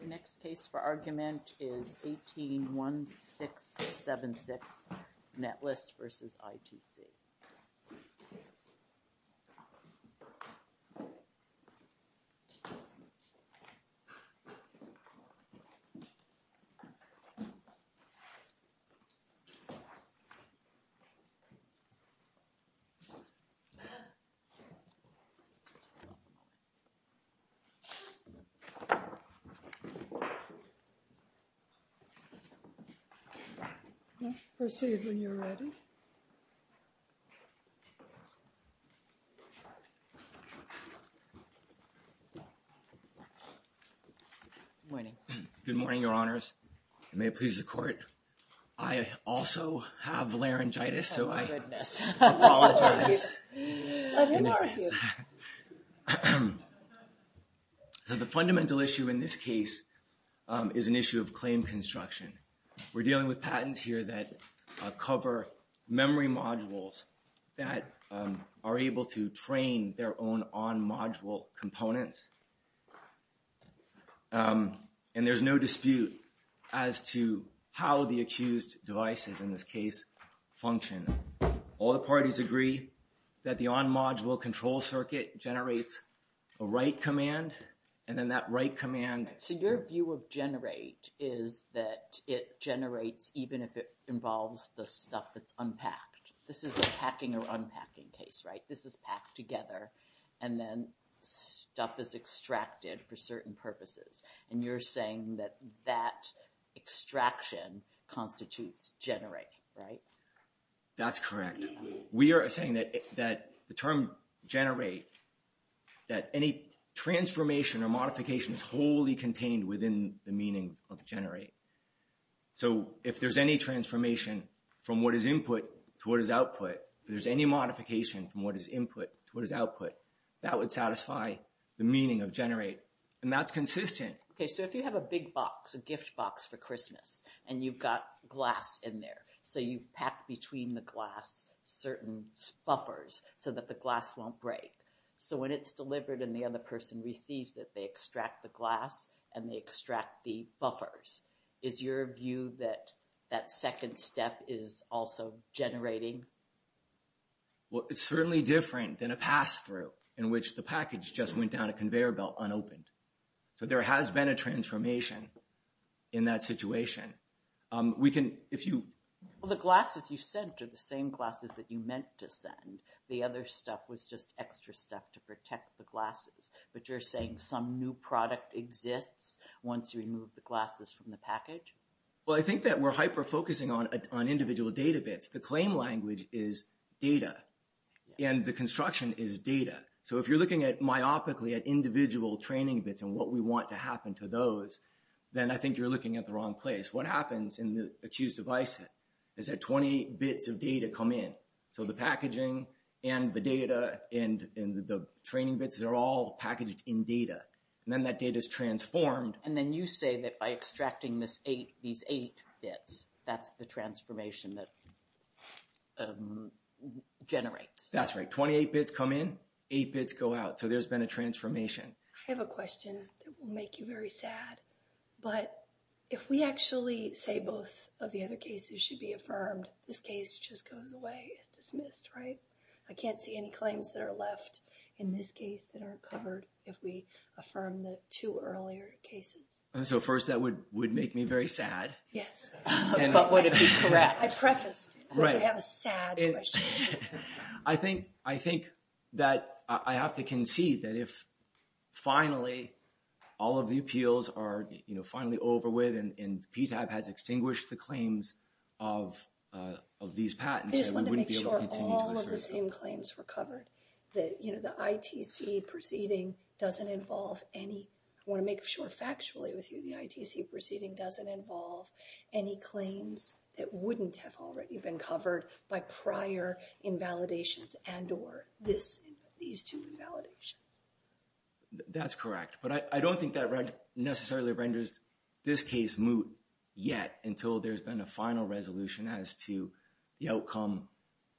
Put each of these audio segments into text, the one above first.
The next case for argument is 18-1676, Netlist v. ITC. Let's proceed when you're ready. Good morning. Good morning, your honors. May it please the court. I also have laryngitis, so I apologize. Let him argue. The fundamental issue in this case is an issue of claim construction. We're dealing with patents here that cover memory modules that are able to train their own on-module components. And there's no dispute as to how the accused devices, in this case, function. All the parties agree that the on-module control circuit generates a write command, and then that write command... It generates even if it involves the stuff that's unpacked. This is a packing or unpacking case, right? This is packed together, and then stuff is extracted for certain purposes. And you're saying that that extraction constitutes generating, right? That's correct. We are saying that the term generate, that any transformation or modification is wholly contained within the meaning of generate. So if there's any transformation from what is input to what is output, if there's any modification from what is input to what is output, that would satisfy the meaning of generate, and that's consistent. Okay, so if you have a big box, a gift box for Christmas, and you've got glass in there, so you've packed between the glass certain buffers so that the glass won't break. So when it's delivered and the other person receives it, they extract the glass and they extract the buffers. Is your view that that second step is also generating? Well, it's certainly different than a pass-through in which the package just went down a conveyor belt unopened. So there has been a transformation in that situation. We can, if you... And the other stuff was just extra stuff to protect the glasses. But you're saying some new product exists once you remove the glasses from the package? Well, I think that we're hyper-focusing on individual data bits. The claim language is data, and the construction is data. So if you're looking myopically at individual training bits and what we want to happen to those, then I think you're looking at the wrong place. What happens in the accused device is that 20 bits of data come in. So the packaging and the data and the training bits, they're all packaged in data. And then that data is transformed. And then you say that by extracting these eight bits, that's the transformation that generates. That's right. 28 bits come in, eight bits go out. So there's been a transformation. I have a question that will make you very sad. But if we actually say both of the other cases should be affirmed, this case just goes away and is dismissed, right? I can't see any claims that are left in this case that aren't covered if we affirm the two earlier cases. So first, that would make me very sad. Yes. But would it be correct? I prefaced. Right. I have a sad question. I think that I have to concede that if finally all of the appeals are finally over with and these patents... I just want to make sure all of the same claims were covered. The ITC proceeding doesn't involve any... I want to make sure factually with you, the ITC proceeding doesn't involve any claims that wouldn't have already been covered by prior invalidations and or these two invalidations. That's correct. But I don't think that necessarily renders this case moot yet until there's been a final resolution as to the outcome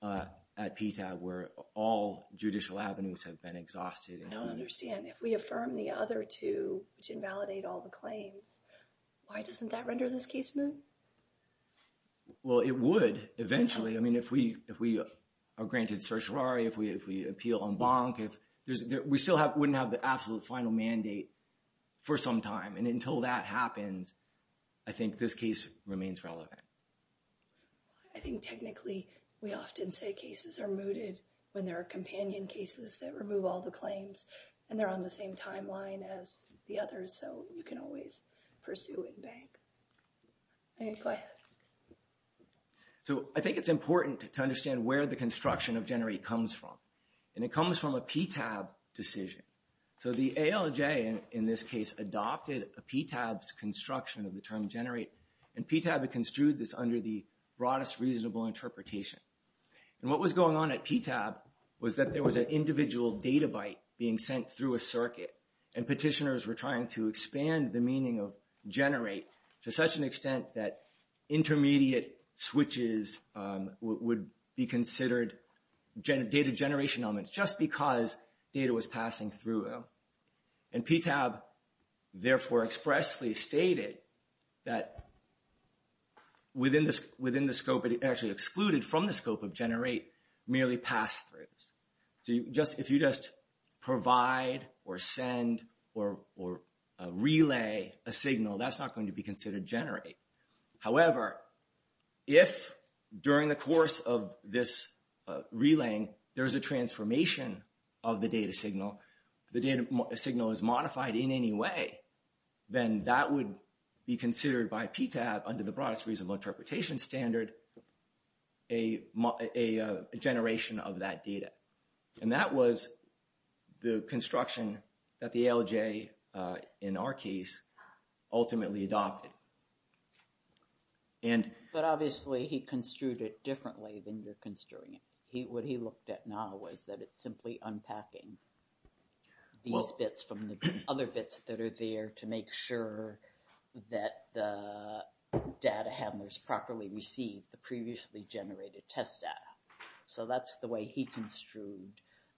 at PTAC where all judicial avenues have been exhausted. I don't understand. If we affirm the other two, which invalidate all the claims, why doesn't that render this case moot? Well, it would eventually. I mean, if we are granted certiorari, if we appeal en banc, we still wouldn't have the absolute final mandate for some time. And until that happens, I think this case remains relevant. I think technically we often say cases are mooted when there are companion cases that remove all the claims and they're on the same timeline as the others. So you can always pursue en banc. Go ahead. So I think it's important to understand where the construction of GENERATE comes from. And it comes from a PTAB decision. So the ALJ, in this case, adopted a PTAB's construction of the term GENERATE. And PTAB construed this under the broadest reasonable interpretation. And what was going on at PTAB was that there was an individual data byte being sent through a circuit. And petitioners were trying to expand the meaning of GENERATE to such an extent that intermediate switches would be considered data generation elements just because data was passing through them. And PTAB, therefore, expressly stated that within the scope, actually excluded from the scope of GENERATE, merely pass-throughs. So if you just provide or send or relay a signal, that's not going to be considered GENERATE. However, if during the course of this relaying, there's a transformation of the data signal, the data signal is modified in any way, then that would be considered by PTAB under the broadest reasonable interpretation standard, a generation of that data. And that was the construction that the ALJ, in our case, ultimately adopted. But obviously he construed it differently than you're construing it. What he looked at now was that it's simply unpacking these bits from the other bits that are there to make sure that the data handlers properly receive the previously generated test data. So that's the way he construed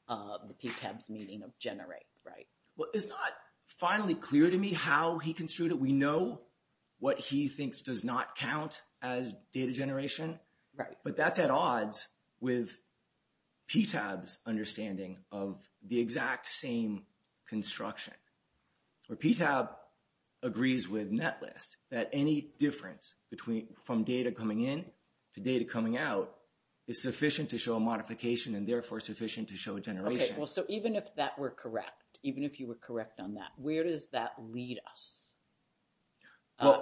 the PTAB's meaning of GENERATE, right? Well, it's not finally clear to me how he construed it. We know what he thinks does not count as data generation. Right. But that's at odds with PTAB's understanding of the exact same construction. PTAB agrees with NetList that any difference from data coming in to data coming out is sufficient to show a modification and therefore sufficient to show a generation. Okay. Well, so even if that were correct, even if you were correct on that, where does that lead us?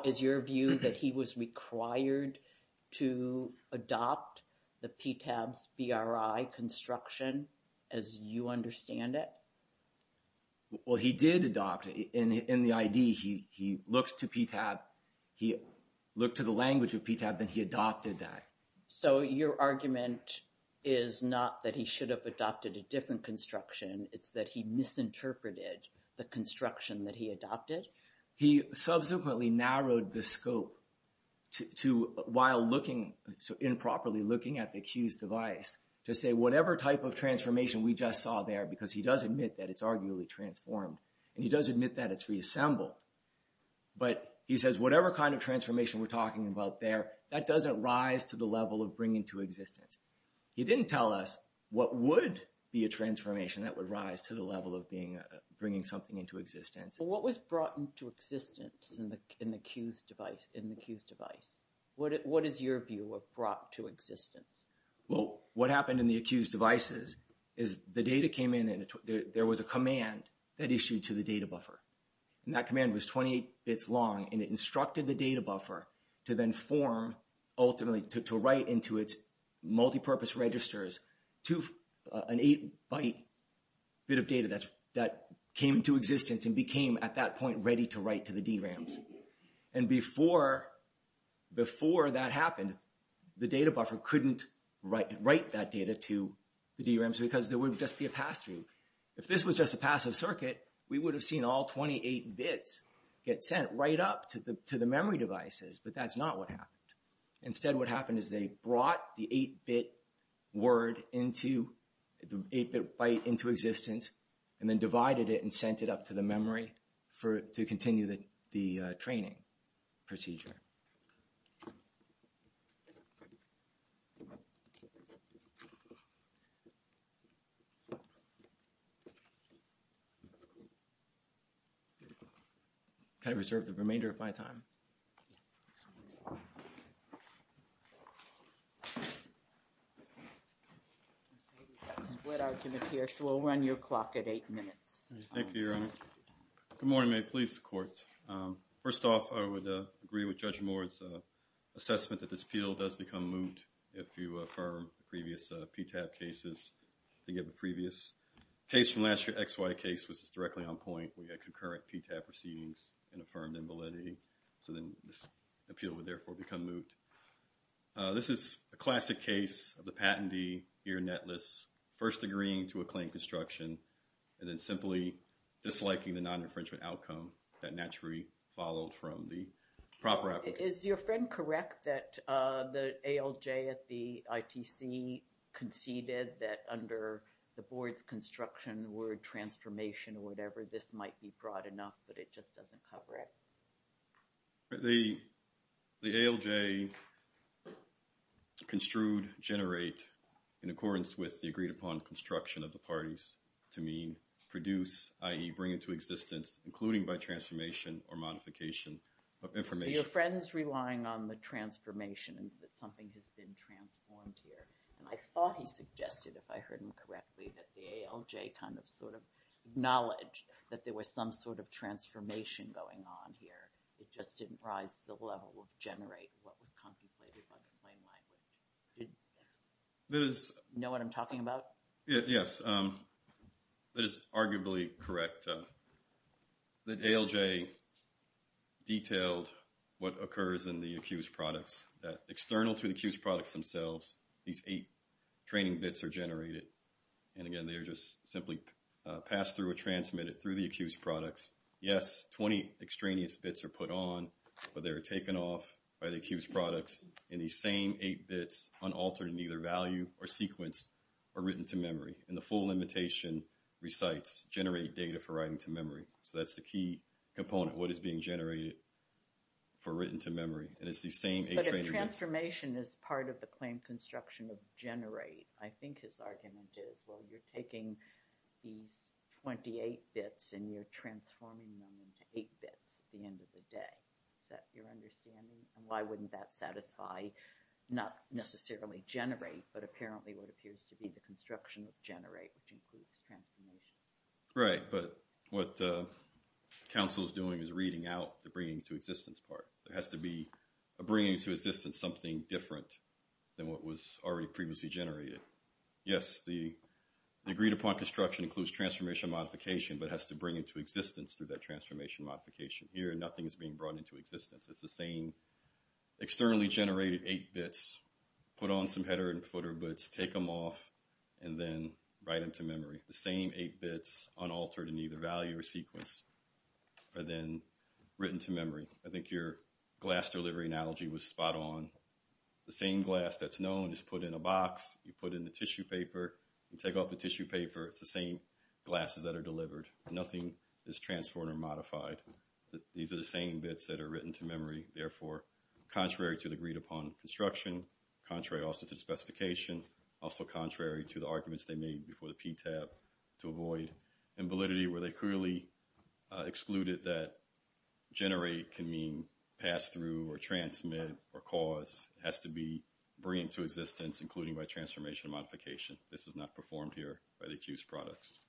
Is your view that he was required to adopt the PTAB's BRI construction as you understand it? Well, he did adopt it. In the ID, he looked to PTAB. He looked to the language of PTAB, then he adopted that. So your argument is not that he should have adopted a different construction, it's that he misinterpreted the construction that he adopted? He subsequently narrowed the scope while improperly looking at the Q's device to say whatever type of transformation we just saw there, because he does admit that it's arguably transformed, and he does admit that it's reassembled, but he says whatever kind of transformation we're talking about there, that doesn't rise to the level of bringing to existence. He didn't tell us what would be a transformation that would rise to the level of bringing something into existence. What was brought into existence in the Q's device? What is your view of brought to existence? Well, what happened in the Q's devices is the data came in and there was a command that issued to the data buffer. And that command was 28 bits long, and it instructed the data buffer to then form ultimately to write into its multipurpose registers to an 8-byte bit of data that came into existence and became at that point ready to write to the DRAMs. And before that happened, the data buffer couldn't write that data to the DRAMs because there would just be a pass-through. If this was just a passive circuit, we would have seen all 28 bits get sent right up to the memory devices, but that's not what happened. Instead, what happened is they brought the 8-bit byte into existence and then divided it and sent it up to the memory to continue the training procedure. I'm going to reserve the remainder of my time. Next one. We've got a split argument here, so we'll run your clock at 8 minutes. Thank you, Your Honor. Good morning, may it please the Court. First off, I would agree with Judge Moore's assessment that this appeal does become moot if you affirm the previous PTAB cases. If you have a previous case from last year, XY case, which is directly on point, we had concurrent PTAB proceedings and affirmed invalidity. So then this appeal would therefore become moot. This is a classic case of the patentee, here netless, first agreeing to a claim construction and then simply disliking the non-infringement outcome that naturally followed from the proper application. Is your friend correct that the ALJ at the ITC conceded that under the board's construction word transformation or whatever, this might be broad enough, but it just doesn't cover it? The ALJ construed generate in accordance with the agreed upon construction of the parties to mean produce, i.e. bring into existence, including by transformation or modification of information. So your friend's relying on the transformation and that something has been transformed here. And I thought he suggested, if I heard him correctly, that the ALJ kind of sort of acknowledged that there was some sort of transformation going on here. It just didn't rise to the level of generate, what was contemplated by the plain language. Do you know what I'm talking about? Yes. That is arguably correct, that ALJ detailed what occurs in the accused products, that external to the accused products themselves, these eight training bits are generated. And again, they are just simply passed through or transmitted through the accused products. Yes, 20 extraneous bits are put on, but they are taken off by the accused products in these same eight bits, unaltered in either value or sequence or written to memory. And the full limitation recites generate data for writing to memory. So that's the key component, what is being generated for written to memory. And it's the same eight training bits. But if transformation is part of the claim construction of generate, I think his argument is, well, you're taking these 28 bits and you're transforming them into eight bits at the end of the day. Is that your understanding? And why wouldn't that satisfy, not necessarily generate, but apparently what appears to be the construction of generate, which includes transformation? Right, but what counsel is doing is reading out the bringing to existence part. It has to be a bringing to existence something different than what was already previously generated. Yes, the agreed upon construction includes transformation modification, but it has to bring into existence through that transformation modification. Here, nothing is being brought into existence. It's the same externally generated eight bits, put on some header and footer bits, take them off, and then write them to memory. The same eight bits unaltered in either value or sequence are then written to memory. I think your glass delivery analogy was spot on. The same glass that's known is put in a box. You put in the tissue paper and take off the tissue paper. It's the same glasses that are delivered. Nothing is transformed or modified. These are the same bits that are written to memory. Therefore, contrary to the agreed upon construction, contrary also to the specification, also contrary to the arguments they made before the PTAB to avoid invalidity where they clearly excluded that generate can mean pass through or transmit or cause. It has to be bringing to existence, including by transformation modification. This is not performed here by the accused products.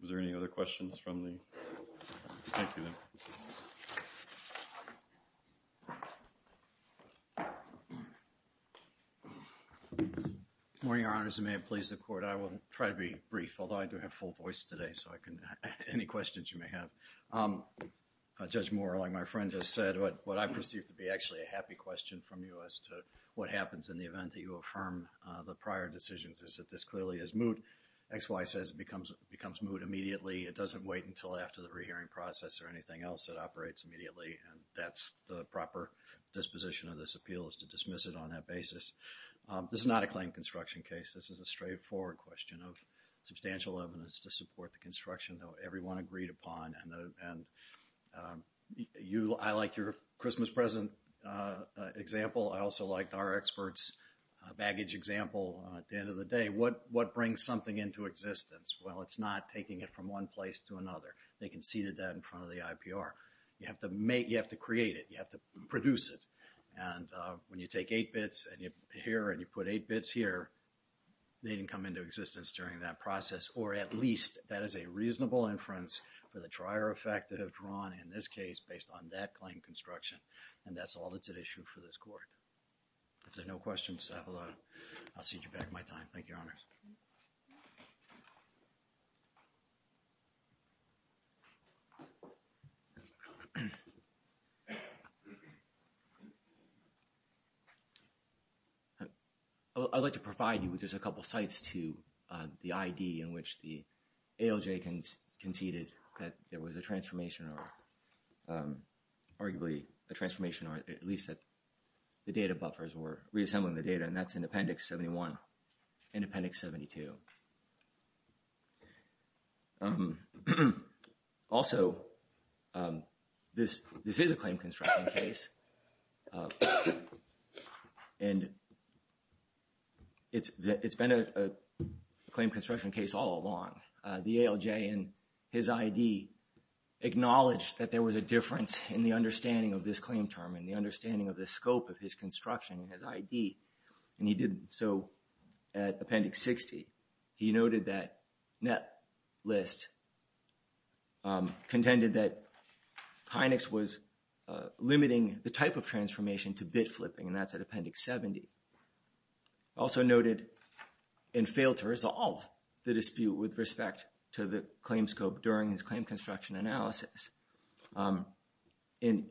Was there any other questions from the? Thank you. Good morning, Your Honors, and may it please the Court. I will try to be brief, although I do have full voice today, so any questions you may have. Judge Moore, like my friend just said, what I perceive to be actually a happy question from you as to what happens in the event that you affirm the prior decisions is that this clearly is moot. XY says it becomes moot immediately. It doesn't wait until after the rehearing process or anything else. It operates immediately, and that's the proper disposition of this appeal is to dismiss it on that basis. This is not a claim construction case. This is a straightforward question of substantial evidence to support the construction that everyone agreed upon. I like your Christmas present example. I also like our experts' baggage example. At the end of the day, what brings something into existence? Well, it's not taking it from one place to another. They conceded that in front of the IPR. You have to create it. You have to produce it, and when you take eight bits here and you put eight bits here, they didn't come into existence during that process, or at least that is a reasonable inference for the trier effect that have drawn in this case based on that claim construction, and that's all that's at issue for this Court. If there are no questions, I'll cede you back my time. Thank you, Your Honors. I'd like to provide you with just a couple of sites to the ID in which the ALJ conceded that there was a transformation or arguably a transformation or at least that the data buffers were reassembling the data, and that's in Appendix 71 and Appendix 72. Also, this is a claim construction case, and it's been a claim construction case all along. The ALJ in his ID acknowledged that there was a difference in the understanding of this claim term and the understanding of the scope of his construction in his ID, and he did so at Appendix 60. He noted that Netlist contended that Hynex was limiting the type of transformation to bit flipping, and that's at Appendix 70. He also noted and failed to resolve the dispute with respect to the claim scope during his claim construction analysis and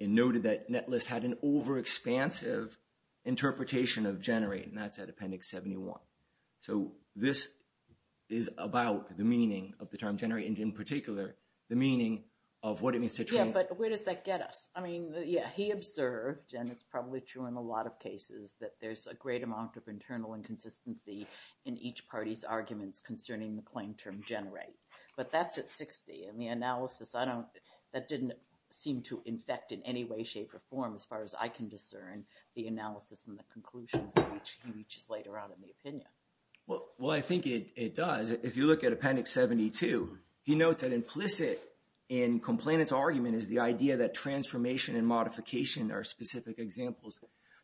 noted that Netlist had an overexpansive interpretation of generate, and that's at Appendix 71. So this is about the meaning of the term generate and, in particular, the meaning of what it means to trade. Yeah, but where does that get us? I mean, yeah, he observed, and it's probably true in a lot of cases, that there's a great amount of internal inconsistency in each party's arguments concerning the claim term generate, but that's at 60, and the analysis, I don't, that didn't seem to infect in any way, shape, or form as far as I can discern the analysis and the conclusions that he reaches later on in the opinion. Well, I think it does. If you look at Appendix 72, he notes that implicit in Complainant's argument is the idea that transformation and modification are specific examples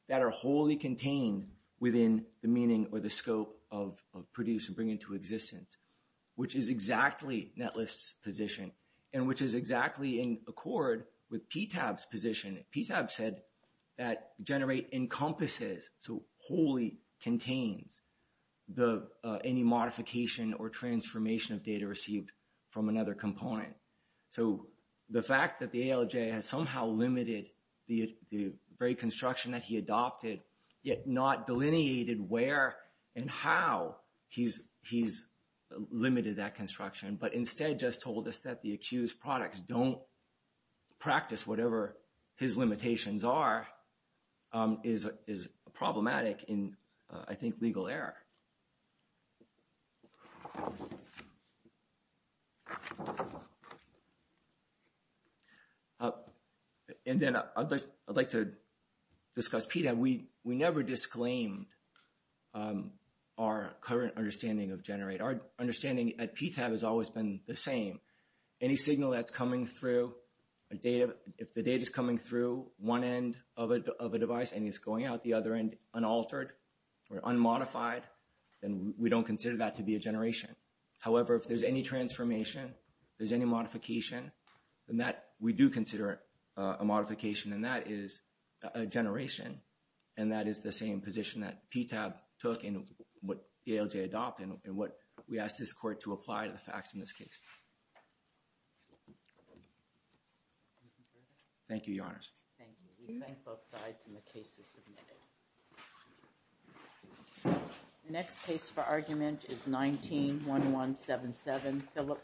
that are wholly contained within the meaning or the scope of produce and bring into existence, which is exactly Netlist's position, and which is exactly in accord with PTAB's position. PTAB said that generate encompasses, so wholly contains, any modification or transformation of data received from another component. So the fact that the ALJ has somehow limited the very construction that he adopted, yet not delineated where and how he's limited that construction, but instead just told us that the accused products don't practice whatever his limitations are, is problematic in, I think, legal error. And then I'd like to discuss PTAB. We never disclaimed our current understanding of generate. Our understanding at PTAB has always been the same. Any signal that's coming through a data, if the data's coming through one end of a device and it's going out the other end and it's unaltered or unmodified, then we don't consider that to be a generation. However, if there's any transformation, there's any modification, then we do consider it a modification, and that is a generation, and that is the same position that PTAB took in what ALJ adopted and what we asked this court to apply to the facts in this case. Thank you, Your Honors. Thank you. We thank both sides, and the case is submitted. The next case for argument is 19-1177, Phillips v. Google.